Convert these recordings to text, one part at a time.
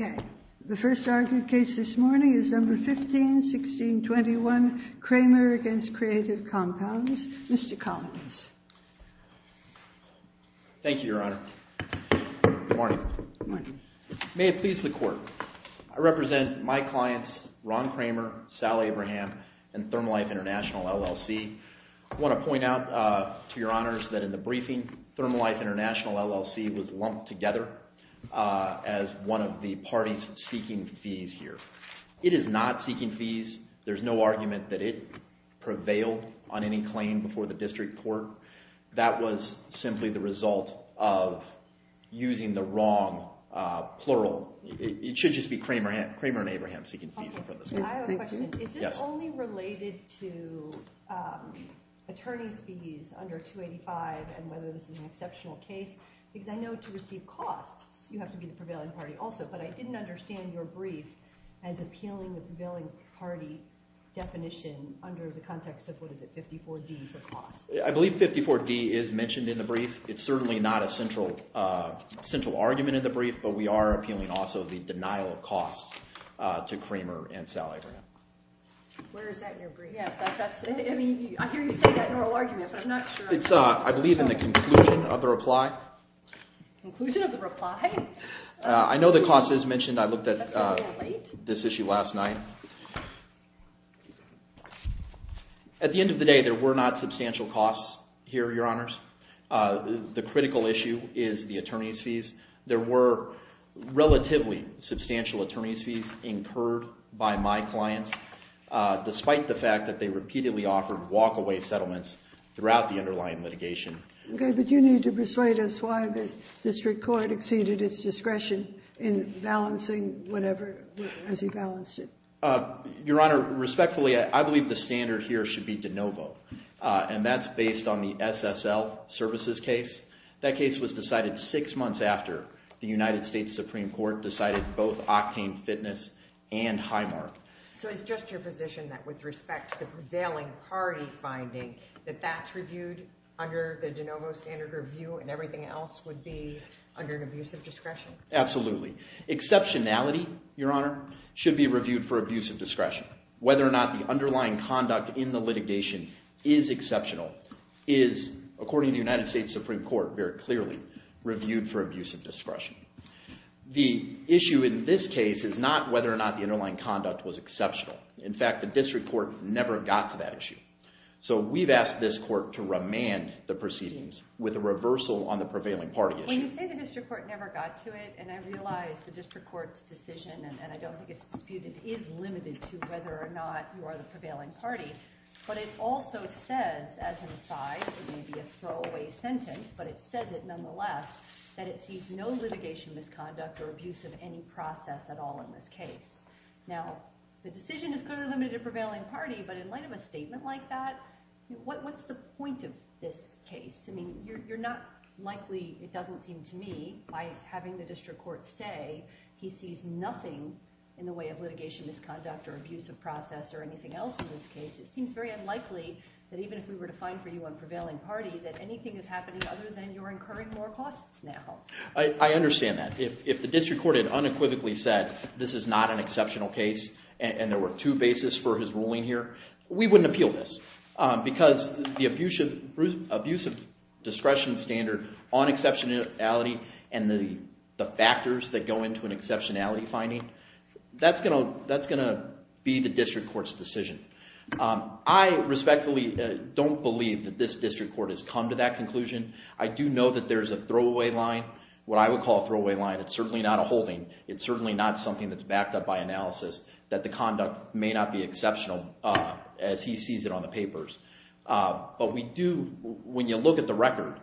Okay, the first argued case this morning is number 151621, Kramer v. Creative Compounds. Mr. Collins. Thank you, your honor. Good morning. May it please the court. I represent my clients, Ron Kramer, Sally Abraham, and Thermalife International, LLC. I want to point out to your honors that in the briefing, Thermalife International, LLC was lumped together as one of the parties seeking fees here. It is not seeking fees. There's no argument that it prevailed on any claim before the district court. That was simply the result of using the wrong plural. It should just be Kramer and Abraham seeking fees. Is this only related to attorney's fees under 285 and whether this is an exceptional case? Because I know to receive costs, you have to be the prevailing party also, but I didn't understand your brief as appealing the prevailing party definition under the context of what is it, 54D for costs. I believe 54D is mentioned in the brief. It's certainly not a central argument in the brief, but we are appealing also the denial of costs to Kramer and Sally Abraham. Where is that in your brief? I mean, I hear you say that in oral argument, but I'm not sure. I believe in the conclusion of the reply. Conclusion of the reply? I know the cost is mentioned. I looked at this issue last night. At the end of the day, there were not substantial costs here, your honors. The critical issue is the attorney's fees. There were relatively substantial attorney's fees incurred by my clients, despite the fact that they repeatedly offered walkaway settlements throughout the underlying litigation. Okay, but you need to persuade us why the district court exceeded its discretion in balancing whatever, as he balanced it. Your honor, respectfully, I believe the standard here should be de novo, and that's based on the SSL services case. That case was decided six months after the United States Supreme Court decided both Octane Fitness and Highmark. So it's just your position that with respect to the prevailing party finding that that's reviewed under the de novo standard review and everything else would be under an abusive discretion? Absolutely. Exceptionality, your honor, should be reviewed for abusive discretion. Whether or not the underlying conduct in the litigation is exceptional is, according to the United States Supreme Court, very clearly reviewed for abusive discretion. The issue in this case is whether or not the underlying conduct was exceptional. In fact, the district court never got to that issue. So we've asked this court to remand the proceedings with a reversal on the prevailing party issue. When you say the district court never got to it, and I realize the district court's decision, and I don't think it's disputed, is limited to whether or not you are the prevailing party, but it also says, as an aside, it may be a throwaway sentence, but it says it nonetheless, that it sees no litigation misconduct or abuse of any process at all in this case. Now, the decision is clearly limited to prevailing party, but in light of a statement like that, what's the point of this case? I mean, you're not likely, it doesn't seem to me, by having the district court say he sees nothing in the way of litigation misconduct or abuse of process or anything else in this case, it seems very unlikely that even if we were to find for you on prevailing party that anything is happening other than you're incurring more costs now. I understand that. If the district court had unequivocally said, this is not an exceptional case, and there were two bases for his ruling here, we wouldn't appeal this. Because the abuse of discretion standard on exceptionality and the factors that go into an exceptionality finding, that's going to be the conclusion. I do know that there's a throwaway line, what I would call a throwaway line. It's certainly not a holding. It's certainly not something that's backed up by analysis, that the conduct may not be exceptional as he sees it on the papers. But we do, when you look at the record,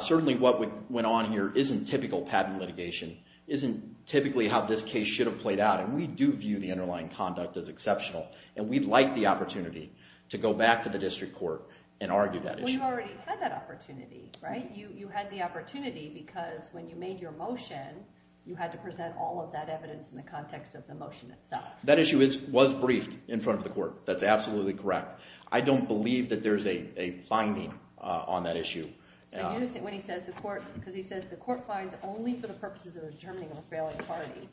certainly what went on here isn't typical patent litigation, isn't typically how this case should have played out. And we do view the underlying conduct as exceptional. And we'd like the opportunity, right? You had the opportunity because when you made your motion, you had to present all of that evidence in the context of the motion itself. That issue was briefed in front of the court. That's absolutely correct. I don't believe that there's a finding on that issue. When he says the court, because he says the court finds only for the purposes of determining a failing party,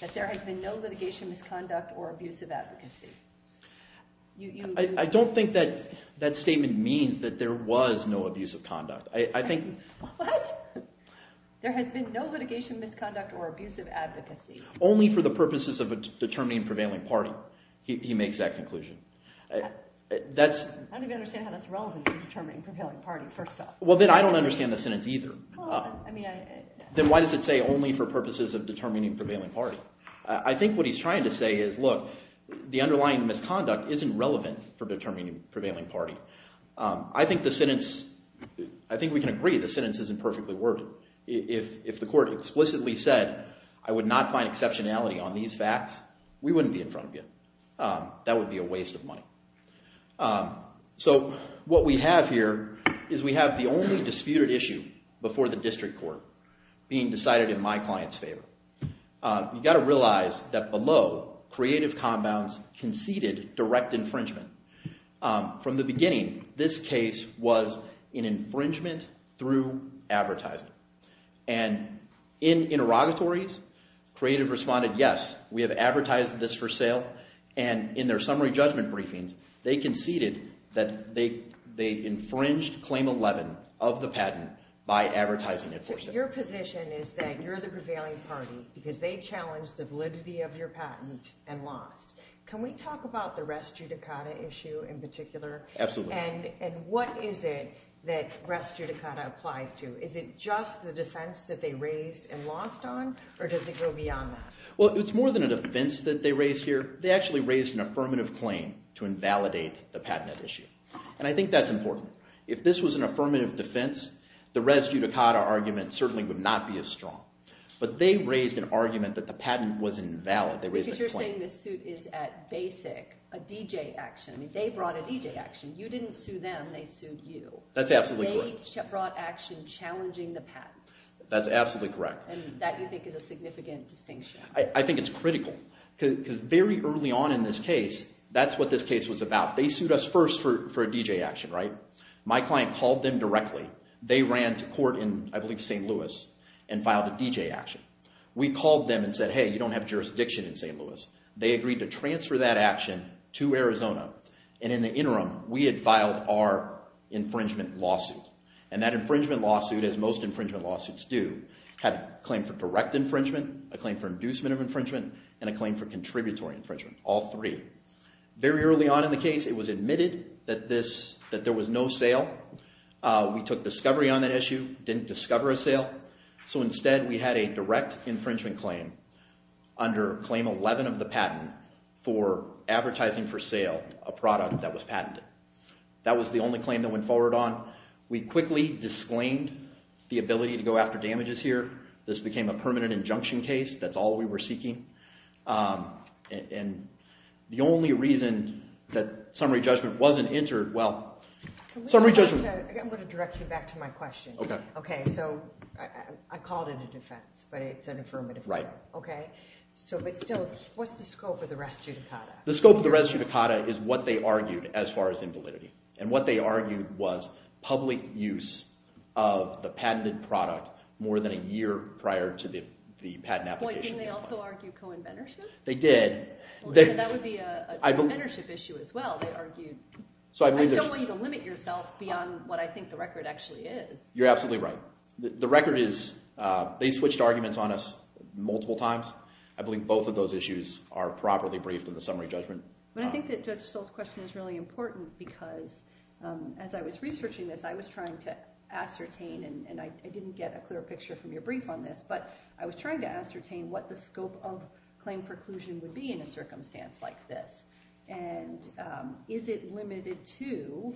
that there has been no litigation misconduct or abuse of advocacy. I don't think that statement means that there was no abuse of conduct. What? There has been no litigation misconduct or abusive advocacy. Only for the purposes of determining prevailing party, he makes that conclusion. I don't even understand how that's relevant to determining prevailing party, first off. Well, then I don't understand the sentence either. Then why does it say only for purposes of determining prevailing party? I think what he's trying to say is, look, the underlying misconduct isn't relevant for determining prevailing party. I think the sentence, I think we can agree the sentence isn't perfectly worded. If the court explicitly said, I would not find exceptionality on these facts, we wouldn't be in front of you. That would be a waste of money. So what we have here is we have the only disputed issue before the district court being decided in my client's favor. You've got to realize that below, Creative Combounds conceded direct infringement. From the beginning, this case was an infringement through advertising. And in interrogatories, Creative responded, yes, we have advertised this for sale. And in their summary judgment briefings, they conceded that they infringed Claim 11 of the patent by advertising it for sale. Your position is that you're the prevailing party because they challenged the validity of your patent and lost. Can we talk about the res judicata issue in particular? Absolutely. And what is it that res judicata applies to? Is it just the defense that they raised and lost on? Or does it go beyond that? Well, it's more than a defense that they raised here. They actually raised an affirmative claim to invalidate the patent issue. And I think that's important. If this was an infringement, it certainly would not be as strong. But they raised an argument that the patent was invalid. Because you're saying the suit is at basic, a DJ action. They brought a DJ action. You didn't sue them. They sued you. That's absolutely correct. They brought action challenging the patent. That's absolutely correct. And that you think is a significant distinction? I think it's critical. Because very early on in this case, that's what this case was about. They sued us for a DJ action. My client called them directly. They ran to court in, I believe, St. Louis and filed a DJ action. We called them and said, hey, you don't have jurisdiction in St. Louis. They agreed to transfer that action to Arizona. And in the interim, we had filed our infringement lawsuit. And that infringement lawsuit, as most infringement lawsuits do, had a claim for direct infringement, a claim for inducement of infringement, and a claim for contributory infringement, all three. Very early on in the case, it was admitted that there was no sale. We took discovery on that issue, didn't discover a sale. So instead, we had a direct infringement claim under claim 11 of the patent for advertising for sale a product that was patented. That was the only claim that went forward on. We quickly disclaimed the ability to go after damages here. This became a permanent injunction case. That's all we were seeking. And the only reason that summary judgment wasn't entered, well, summary judgment- I'm going to direct you back to my question. Okay. Okay. So I called it a defense, but it's an affirmative. Right. Okay. So, but still, what's the scope of the res judicata? The scope of the res judicata is what they argued as far as invalidity. And what they argued was public use of the patented product more than a year prior to the patent application. Wait, didn't they also argue co-inventorship? They did. That would be a co-inventorship issue as well, they argued. I just don't want you to limit yourself beyond what I think the record actually is. You're absolutely right. The record is, they switched arguments on us multiple times. I believe both of those issues are properly briefed in the summary judgment. But I think that Judge Stoll's question is really important because as I was researching this, I was trying to ascertain, and I didn't get a clear picture from your brief on this, but I was trying to ascertain what the scope of claim preclusion would be in a circumstance like this. And is it limited to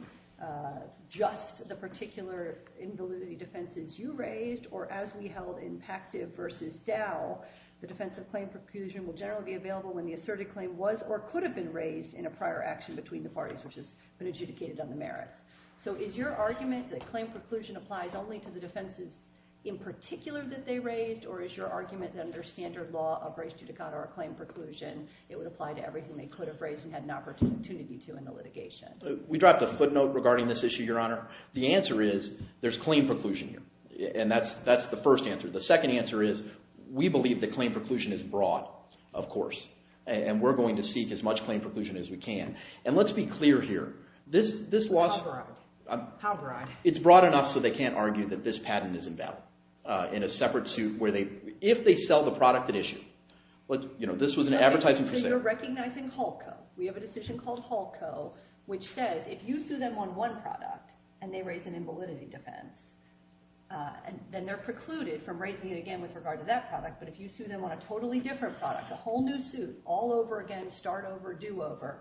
just the particular invalidity defenses you raised, or as we held impactive versus Dow, the defense of claim preclusion will generally be available when asserted claim was or could have been raised in a prior action between the parties which has been adjudicated on the merits. So is your argument that claim preclusion applies only to the defenses in particular that they raised, or is your argument that under standard law of res judicata or claim preclusion, it would apply to everything they could have raised and had an opportunity to in the litigation? We dropped a footnote regarding this issue, Your Honor. The answer is, there's claim preclusion here. And that's the first answer. The second answer is, we believe that claim preclusion is broad, of course, and we're going to seek as much claim preclusion as we can. And let's be clear here, this loss... How broad? It's broad enough so they can't argue that this patent is invalid in a separate suit where they, if they sell the product at issue, but you know, this was an advertising... So you're recognizing HALCO. We have a decision called HALCO, which says if you sue them on one product and they raise an But if you sue them on a totally different product, a whole new suit, all over again, start over, do over,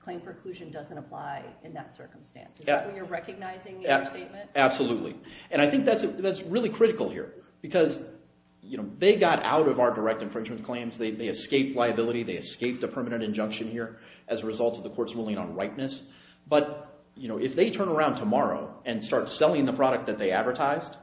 claim preclusion doesn't apply in that circumstance. Is that what you're recognizing in your statement? Absolutely. And I think that's really critical here because, you know, they got out of our direct infringement claims. They escaped liability. They escaped a permanent injunction here as a result of the court's ruling on rightness. But, you know, if they turn around tomorrow and start selling the product that they advertised,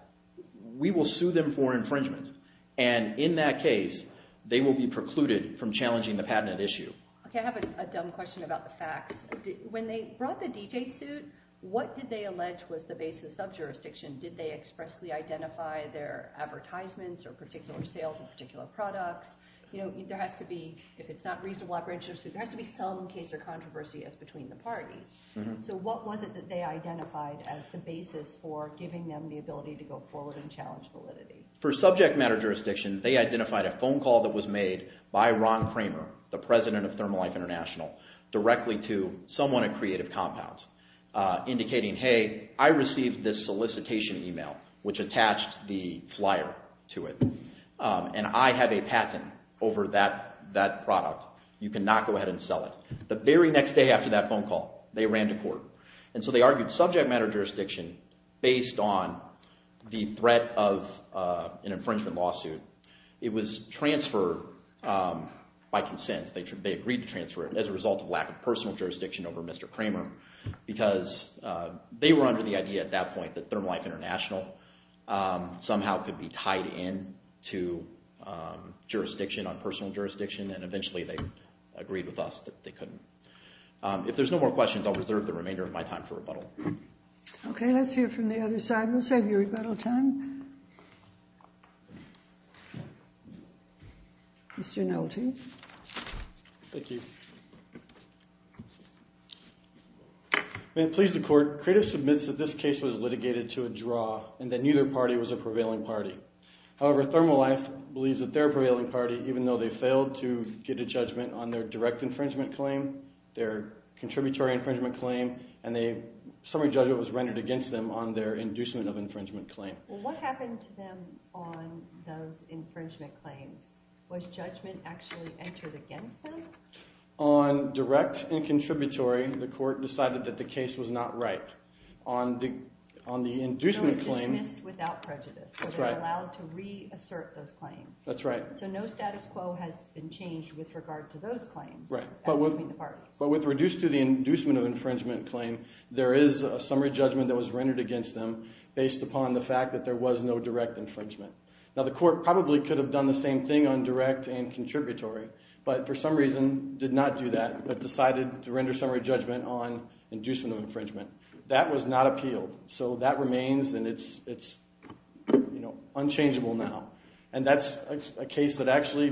we will sue them for infringement. And in that case, they will be precluded from challenging the patent at issue. Okay. I have a dumb question about the facts. When they brought the DJ suit, what did they allege was the basis of jurisdiction? Did they expressly identify their advertisements or particular sales of particular products? You know, there has to be, if it's not reasonable operational suit, there has to be some case or controversy as between the go forward and challenge validity. For subject matter jurisdiction, they identified a phone call that was made by Ron Kramer, the president of Thermalife International, directly to someone at Creative Compounds, indicating, hey, I received this solicitation email, which attached the flyer to it. And I have a patent over that product. You cannot go ahead and sell it. The very next day after that phone call, they ran to court. And so they argued subject matter jurisdiction based on the threat of an infringement lawsuit. It was transferred by consent. They agreed to transfer it as a result of lack of personal jurisdiction over Mr. Kramer, because they were under the idea at that point that Thermalife International somehow could be tied in to jurisdiction on personal jurisdiction. And eventually, they agreed with us that they couldn't. If there's no more questions, I'll reserve the remainder of my time for rebuttal. OK, let's hear from the other side. We'll save your rebuttal time. Mr. Nolte. Thank you. May it please the court, Creative submits that this case was litigated to a draw and that neither party was a prevailing party. However, Thermalife believes that their prevailing party, even though they failed to get a judgment on their direct infringement claim, their contributory infringement claim, and their summary judgment was rendered against them on their inducement of infringement claim. What happened to them on those infringement claims? Was judgment actually entered against them? On direct and contributory, the court decided that the case was not right. On the inducement claim, it was dismissed without prejudice. They were allowed to reassert those claims. That's right. So no status quo has been changed with regard to those claims. But with reduced to the inducement of infringement claim, there is a summary judgment that was rendered against them based upon the fact that there was no direct infringement. Now, the court probably could have done the same thing on direct and contributory, but for some reason did not do that, but decided to render summary judgment on inducement of infringement. That was not appealed. So that remains and it's unchangeable now. And that's a case that actually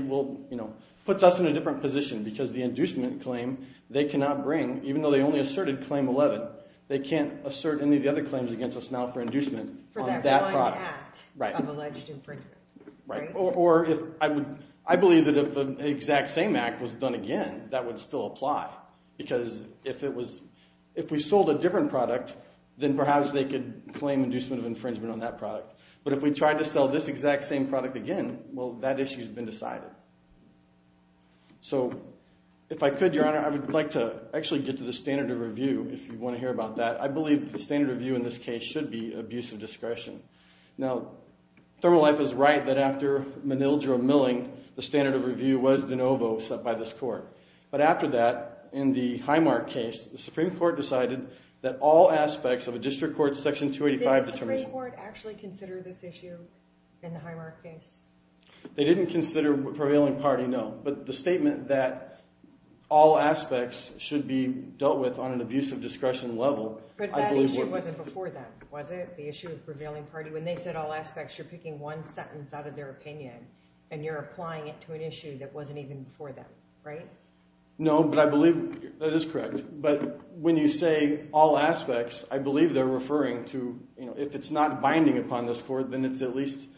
puts us in a different position because the inducement claim they cannot bring, even though they only asserted claim 11, they can't assert any of the other claims against us now for inducement on that product. For that one act of alleged infringement. Right. Or I believe that if the exact same act was done again, that would still apply. Because if we sold a different product, then perhaps they could claim inducement of infringement on that product. But if we tried to sell this exact same product again, well, that issue has been decided. So if I could, Your Honor, I would like to actually get to the standard of review. If you want to hear about that, I believe the standard review in this case should be abuse of discretion. Now, ThermoLife is right that after Manildro milling, the standard of review was de novo set by this court. But after that, in the Highmark case, the Supreme Court decided that all aspects of a district court section 285... Did the Supreme Court actually consider this issue in the Highmark case? They didn't consider prevailing party, no. But the statement that all aspects should be dealt with on an abuse of discretion level... But that issue wasn't before then, was it? The issue of prevailing party. When they said all aspects, you're picking one sentence out of their opinion and you're applying it to an issue that wasn't even before then, right? No, but I believe that is correct. But when you say all aspects, I believe they're referring to... If it's not binding upon this court, then it's at least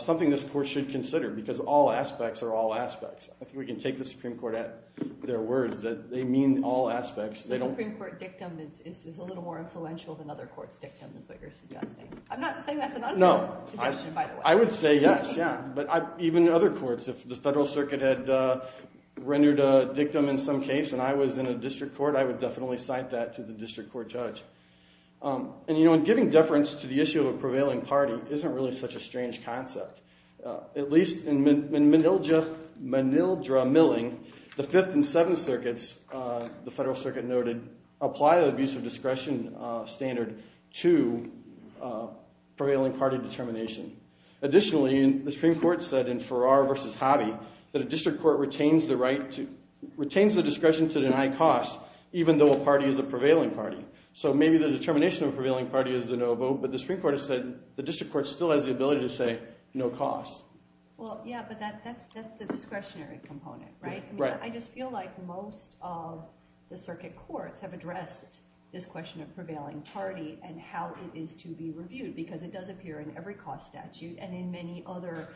something this court should consider because all aspects are all aspects. I think we can take the Supreme Court at their words that they mean all aspects. The Supreme Court dictum is a little more influential than other courts' dictum is what you're suggesting. I'm not saying that's an unfair suggestion, by the way. I would say yes, yeah. But even other courts, if the Federal Circuit had rendered a dictum in some case and I was in a district court, I would definitely cite that to the district court judge. And giving deference to the issue of a prevailing party isn't really such a strange concept. At least in Menildra Milling, the Fifth and Seventh Circuits, the Federal Circuit noted, apply the abuse of discretion standard to prevailing party determination. Additionally, the Supreme Court said in Farrar v. Hobby that a district court the discretion to deny cost, even though a party is a prevailing party. So maybe the determination of a prevailing party is de novo, but the Supreme Court has said the district court still has the ability to say no cost. Well, yeah, but that's the discretionary component, right? I just feel like most of the circuit courts have addressed this question of prevailing party and how it is to be reviewed because it does appear in every cost statute and in many other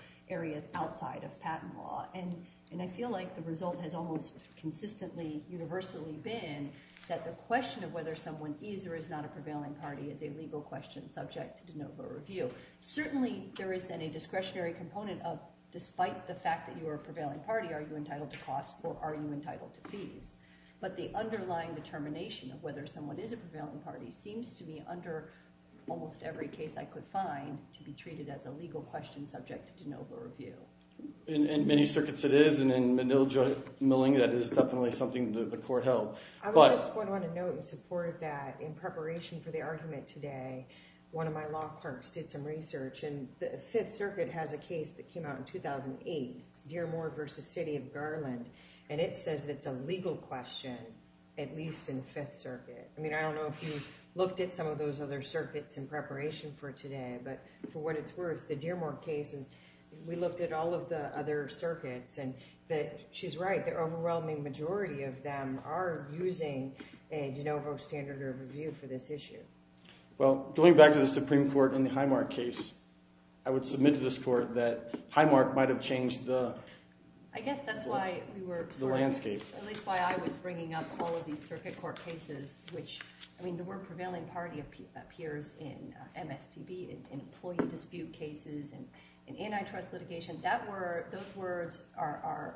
outside of patent law. And I feel like the result has almost consistently universally been that the question of whether someone is or is not a prevailing party is a legal question subject to de novo review. Certainly there is then a discretionary component of despite the fact that you are a prevailing party, are you entitled to cost or are you entitled to fees? But the underlying determination of whether someone is a prevailing party seems to be under almost every case I could find to be treated as a legal question subject to de novo review. In many circuits it is, and in Menilja and Milling, that is definitely something that the court held. I just want to note and support that in preparation for the argument today, one of my law clerks did some research, and the Fifth Circuit has a case that came out in 2008. It's Dearmoor v. City of Garland, and it says it's a legal question, at least in Fifth Circuit. I mean, I don't know if you have that case in preparation for today, but for what it's worth, the Dearmoor case, and we looked at all of the other circuits, and she's right, the overwhelming majority of them are using a de novo standard of review for this issue. Well, going back to the Supreme Court in the Highmark case, I would submit to this court that Highmark might have changed the landscape. I guess that's why I was bringing up all of these circuit court cases, which, I mean, the word prevailing party appears in MSPB, in employee dispute cases, and in antitrust litigation. Those words are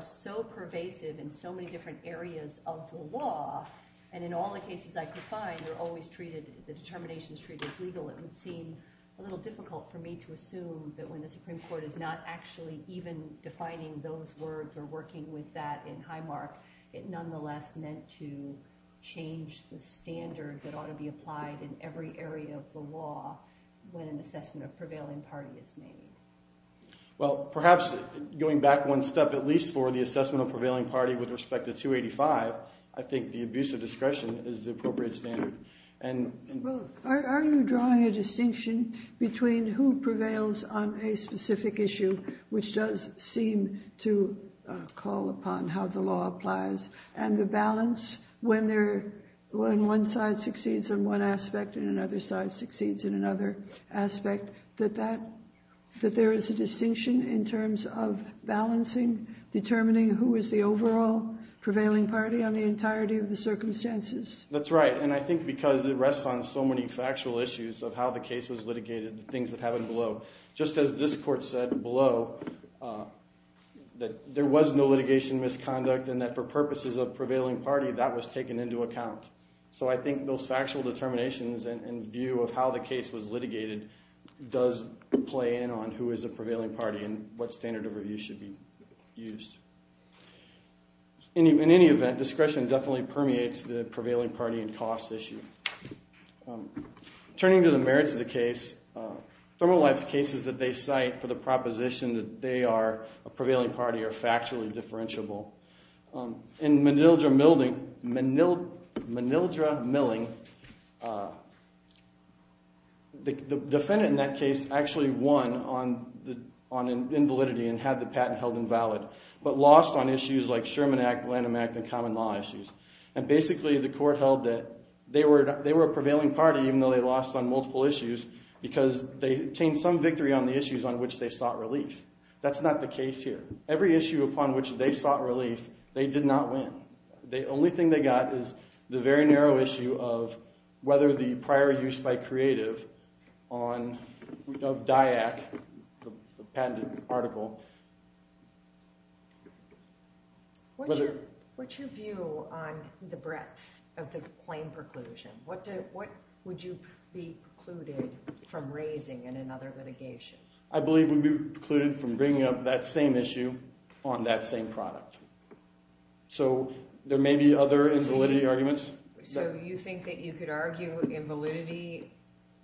so pervasive in so many different areas of the law, and in all the cases I could find, they're always treated, the determination is treated as legal. It would seem a little difficult for me to assume that when the Supreme Court is not actually even defining those words or working with that in Highmark, it nonetheless meant to change the standard that ought to be applied in every area of the law when an assessment of prevailing party is made. Well, perhaps going back one step, at least for the assessment of prevailing party with respect to 285, I think the abuse of discretion is the appropriate standard. Well, are you drawing a distinction between who prevails on a specific issue, which does seem to call upon how the law applies, and the balance when one side succeeds on one aspect and another side succeeds in another aspect, that there is a distinction in terms of balancing, determining who is the overall prevailing party on the entirety of the circumstances? That's right, and I think because it rests on so many factual issues of how the case was litigated, the things that happened below, just as this court said below, that there was no litigation misconduct and that for purposes of prevailing party, that was taken into account. So I think those factual determinations and view of how the case was litigated does play in on who is a prevailing party and what standard of review should be used. In any event, discretion definitely permeates the prevailing party and cost issue. Turning to the merits of the case, ThermoLife's cases that they cite for the proposition that they are a prevailing party are factually differentiable. In Manildra Milling, the defendant in that case actually won on invalidity and had the patent held invalid, but lost on issues like Sherman Act, Lanham Act, and common law issues. And basically the court held that they were a prevailing party even though they lost on multiple issues because they attained some victory on the issues on which they sought relief. That's not the case here. Every issue upon which they sought relief, they did not win. The only thing they got is the very narrow issue of whether the prior use by creative of DIAC, the patented article. What's your view on the breadth of the claim preclusion? What would you be precluded from raising in another litigation? I believe we'd be precluded from bringing up that same issue on that same product. So there may be other invalidity arguments. So you think that you could argue invalidity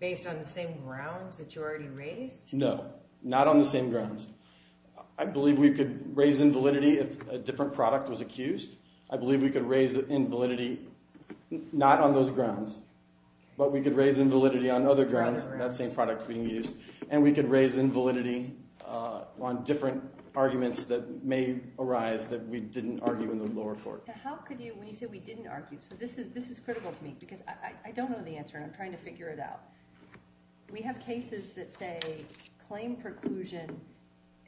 based on the same grounds that you already raised? No, not on the same grounds. I believe we could raise invalidity if a different product was accused. I believe we could raise invalidity not on those grounds, but we could raise invalidity on other grounds, that same product being used. And we could raise invalidity on different arguments that may arise that we didn't argue in the lower court. How could you, when you say we didn't argue, so this is critical to me because I don't know the answer and I'm trying to figure it out. We have cases that say claim preclusion,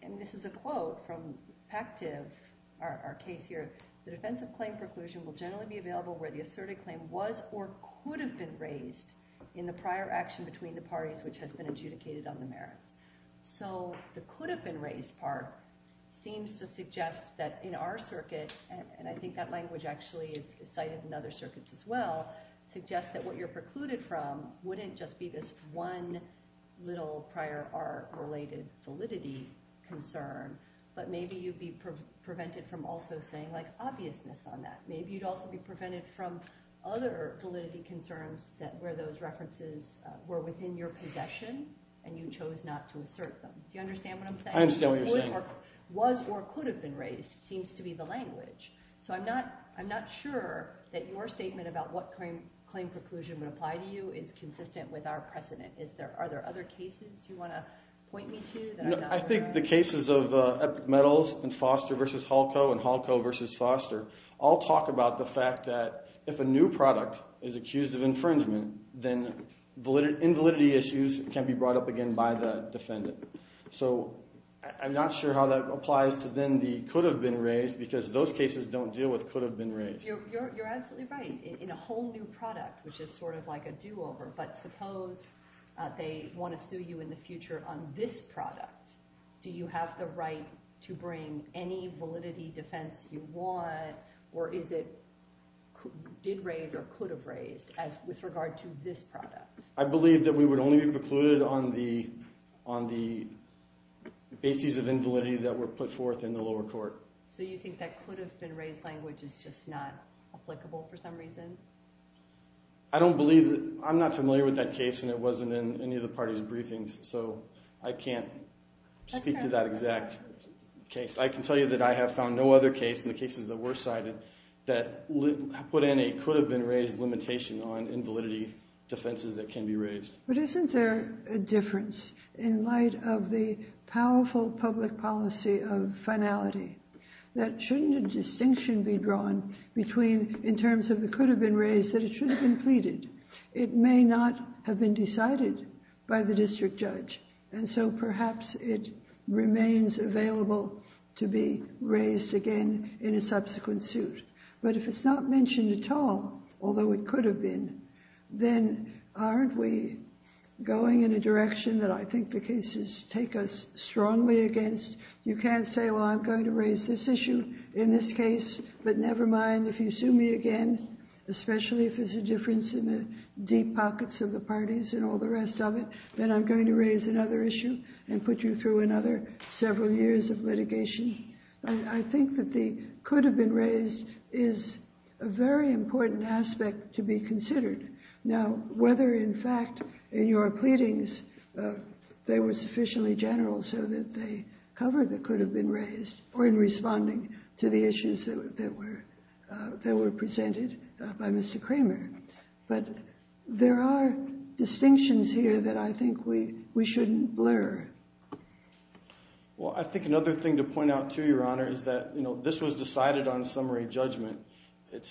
and this is a quote from Pactiv, our case here, the defense of claim preclusion will generally be available where the asserted claim was or could have been raised in the prior action between the parties which has been adjudicated on the merits. So the could have been raised part seems to suggest that in our circuit, and I think that suggests that what you're precluded from wouldn't just be this one little prior art related validity concern, but maybe you'd be prevented from also saying like obviousness on that. Maybe you'd also be prevented from other validity concerns that where those references were within your possession and you chose not to assert them. Do you understand what I'm saying? I understand what you're saying. Was or could have been raised seems to be the language. So I'm not sure that your statement about what claim preclusion would apply to you is consistent with our precedent. Are there other cases you want to point me to? I think the cases of Epic Metals and Foster versus Halco and Halco versus Foster all talk about the fact that if a new product is accused of infringement, then invalidity issues can be brought up again by the defendant. So I'm not sure how that applies to then the could have been raised because those cases don't deal with could have been raised. You're absolutely right. In a whole new product, which is sort of like a do-over, but suppose they want to sue you in the future on this product. Do you have the right to bring any validity defense you want or is it did raise or could have raised as with regard to this product? I believe that we would only be precluded on the on the bases of invalidity that were put forth in the lower court. So you think that could have been raised language is just not applicable for some reason? I don't believe that. I'm not familiar with that case and it wasn't in any of the party's briefings, so I can't speak to that exact case. I can tell you that I have found no other case in the cases that were cited that put in a could have been raised limitation on invalidity defenses that can be raised. But isn't there a difference in light of the powerful public policy of finality that shouldn't a distinction be drawn between in terms of the could have been raised that it should have been pleaded? It may not have been decided by the district judge and so perhaps it remains available to be raised again in a subsequent suit. But if it's not mentioned at all, although it could have been, then aren't we going in a direction that I think the cases take us strongly against? You can't say well I'm going to raise this issue in this case but never mind if you sue me again, especially if there's a difference in the deep pockets of the parties and all the rest of it, then I'm going to raise another issue and put you through another several years of litigation. I think that the could have been raised is a very important aspect to be considered. Now, whether in fact in your pleadings they were sufficiently general so that they covered the could have been raised or in responding to the issues that were presented by Mr. Kramer, but there are distinctions here that I think we shouldn't blur. Well, I think another thing to point out to your honor is that you know this was decided on summary judgment. The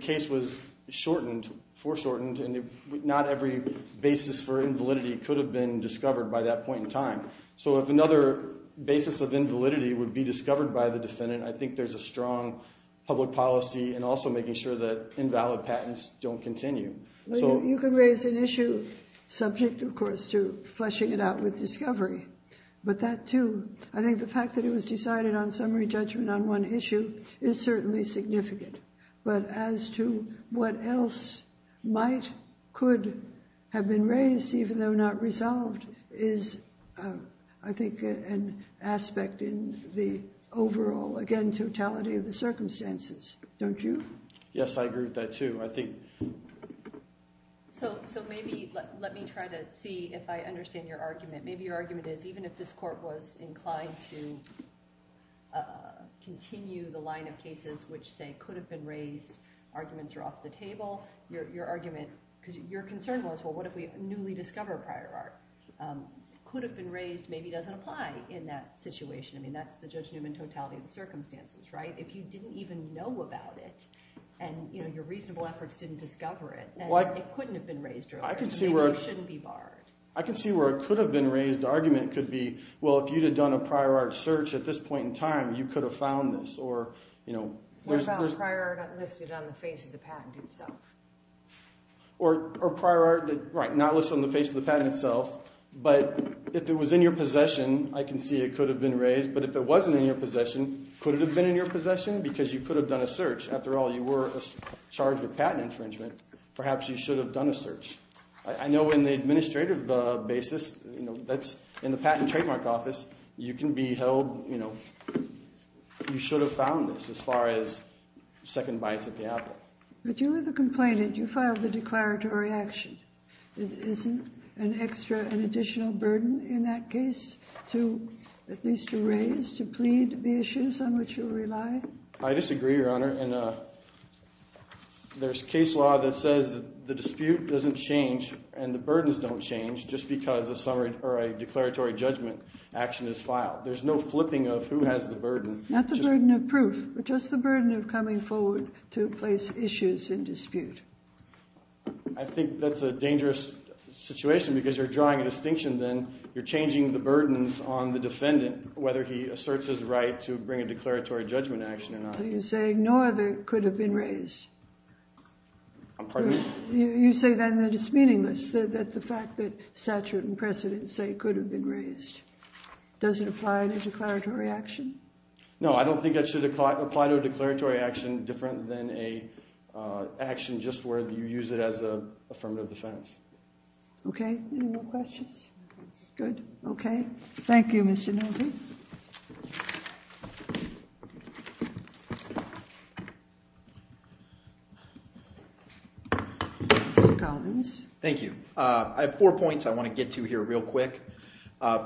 case was shortened, foreshortened, and not every basis for invalidity could have been discovered by that point in time. So if another basis of invalidity would be discovered by the defendant, I think there's a strong public policy and also making sure that invalid patents don't continue. You can raise an issue subject of course to fleshing it out with discovery, but that too, I think the fact that it was decided on summary judgment on one issue is certainly significant, but as to what else might, could have been raised even though not resolved is I think an aspect in the overall again totality of the circumstances, don't you? Yes, I agree with that too. I think so maybe let me try to see if I understand your argument. Maybe your argument is even if this court was inclined to continue the line of cases which say could have been raised, arguments are off the table, your argument because your concern was well what if we newly discover prior art? Could have been raised maybe doesn't apply in that situation. I mean that's the Judge Newman totality of the circumstances, right? If you didn't even know about it and you know your reasonable efforts didn't discover it, then it couldn't have been barred. I can see where it could have been raised. The argument could be well if you'd have done a prior art search at this point in time, you could have found this or you know. We found prior art not listed on the face of the patent itself. Or prior art that, right, not listed on the face of the patent itself, but if it was in your possession, I can see it could have been raised, but if it wasn't in your possession, could it have been in your possession? Because you could have done a search after all you were charged with patent infringement, perhaps you should have done a search. I know in the administrative basis, you know, that's in the patent trademark office, you can be held, you know, you should have found this as far as second bites at the apple. But you were the complainant, you filed the declaratory action. It isn't an extra, an additional burden in that case to at least to raise, to plead the issues on which you rely? I disagree, Your Honor, and there's case law that says that the dispute doesn't change and the burdens don't change just because a summary or a declaratory judgment action is filed. There's no flipping of who has the burden. Not the burden of proof, but just the burden of coming forward to place issues in dispute. I think that's a dangerous situation because you're drawing a distinction then, you're changing the burdens on the defendant, whether he asserts his right to bring a So you're saying no other could have been raised? I'm pardon me? You say then that it's meaningless, that the fact that statute and precedents say could have been raised. Does it apply in a declaratory action? No, I don't think that should apply to a declaratory action different than a action just where you use it as a affirmative defense. Okay, any more questions? Good, okay. Thank you, Mr. Nolte. Thank you. I have four points I want to get to here real quick.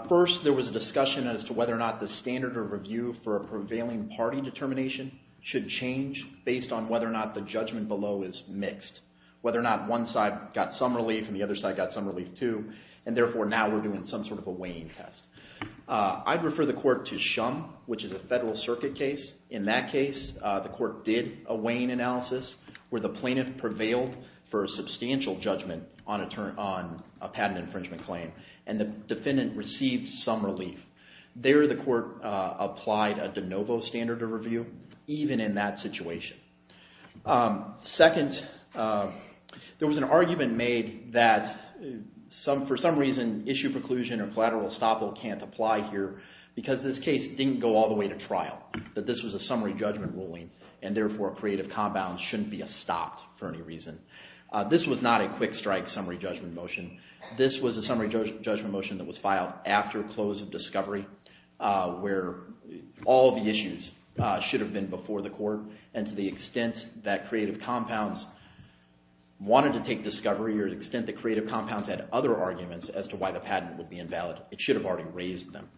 First, there was a discussion as to whether or not the standard of review for a prevailing party determination should change based on whether or not the judgment below is mixed. Whether or not one side got some relief and the other side got some relief too, and therefore now we're doing some sort of a weighing test. I'd refer the court to Shum, which is a federal circuit case. In that case, the court did a weighing analysis where the plaintiff prevailed for a substantial judgment on a patent infringement claim, and the defendant received some relief. There the court applied a de novo standard of review, even in that situation. Second, there was an argument made that for some reason issue preclusion or collateral can't apply here, because this case didn't go all the way to trial. That this was a summary judgment ruling, and therefore a creative compound shouldn't be a stopped for any reason. This was not a quick strike summary judgment motion. This was a summary judgment motion that was filed after close of discovery, where all the issues should have been before the court, and to the extent that creative compounds wanted to take discovery, or the extent that creative compounds had other arguments as to why the patent would be invalid, it should have already raised them.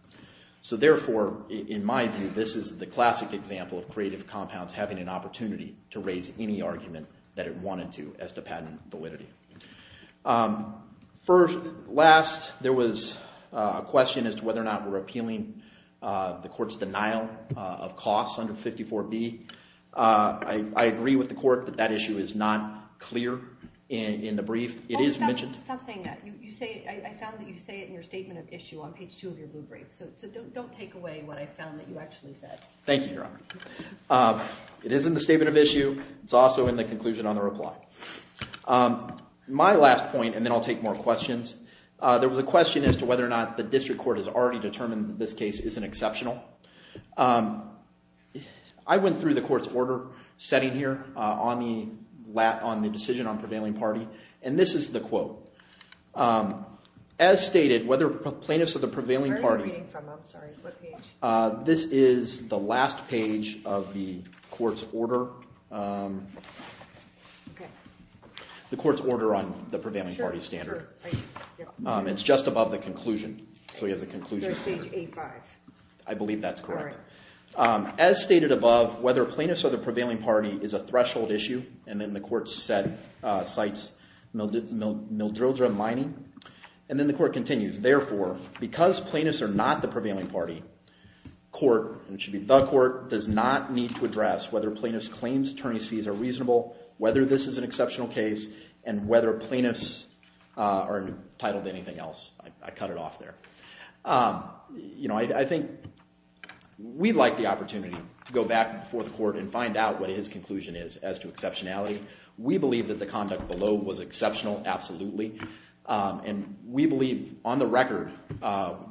So therefore, in my view, this is the classic example of creative compounds having an opportunity to raise any argument that it wanted to as to patent validity. Last, there was a question as to whether or not we're appealing the court's denial of costs under 54B. I agree with the court that that issue is not clear in the brief. It is mentioned. Stop saying that. I found that you say it in your statement of issue on page two of your blue brief. So don't take away what I found that you actually said. Thank you, Your Honor. It is in the statement of issue. It's also in the conclusion on the reply. My last point, and then I'll take more questions. There was a question as to whether or not the district court has already determined that this case isn't exceptional. I went through the court's order setting here on the decision on prevailing party, and this is the quote. As stated, whether plaintiffs or the prevailing party... Where are you reading from? I'm sorry. What page? This is the last page of the court's order. The court's order on the prevailing party standard. It's just above the conclusion. So he has a conclusion. Is there a stage A-5? I believe that's correct. As stated above, whether plaintiffs or the prevailing party is a threshold issue, and then the court cites Mildredra mining. And then the court continues. Therefore, because plaintiffs are not the prevailing party, court, and it should be the court, does not need to address whether plaintiff's claims, attorney's fees are reasonable, whether this is an exceptional case, and whether plaintiffs are entitled to anything else. I cut it off there. I think we'd like the opportunity to go back before the court and find out what his conclusion is as to exceptionality. We believe that the conduct below was exceptional, absolutely. And we believe, on the record,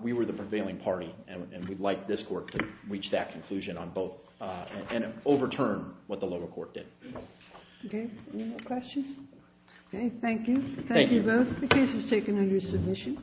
we were the prevailing party. And we'd like this court to reach that conclusion on both, and overturn what the lower court did. OK. Any more questions? OK. Thank you. Thank you both. The case is taken under submission. Thank you.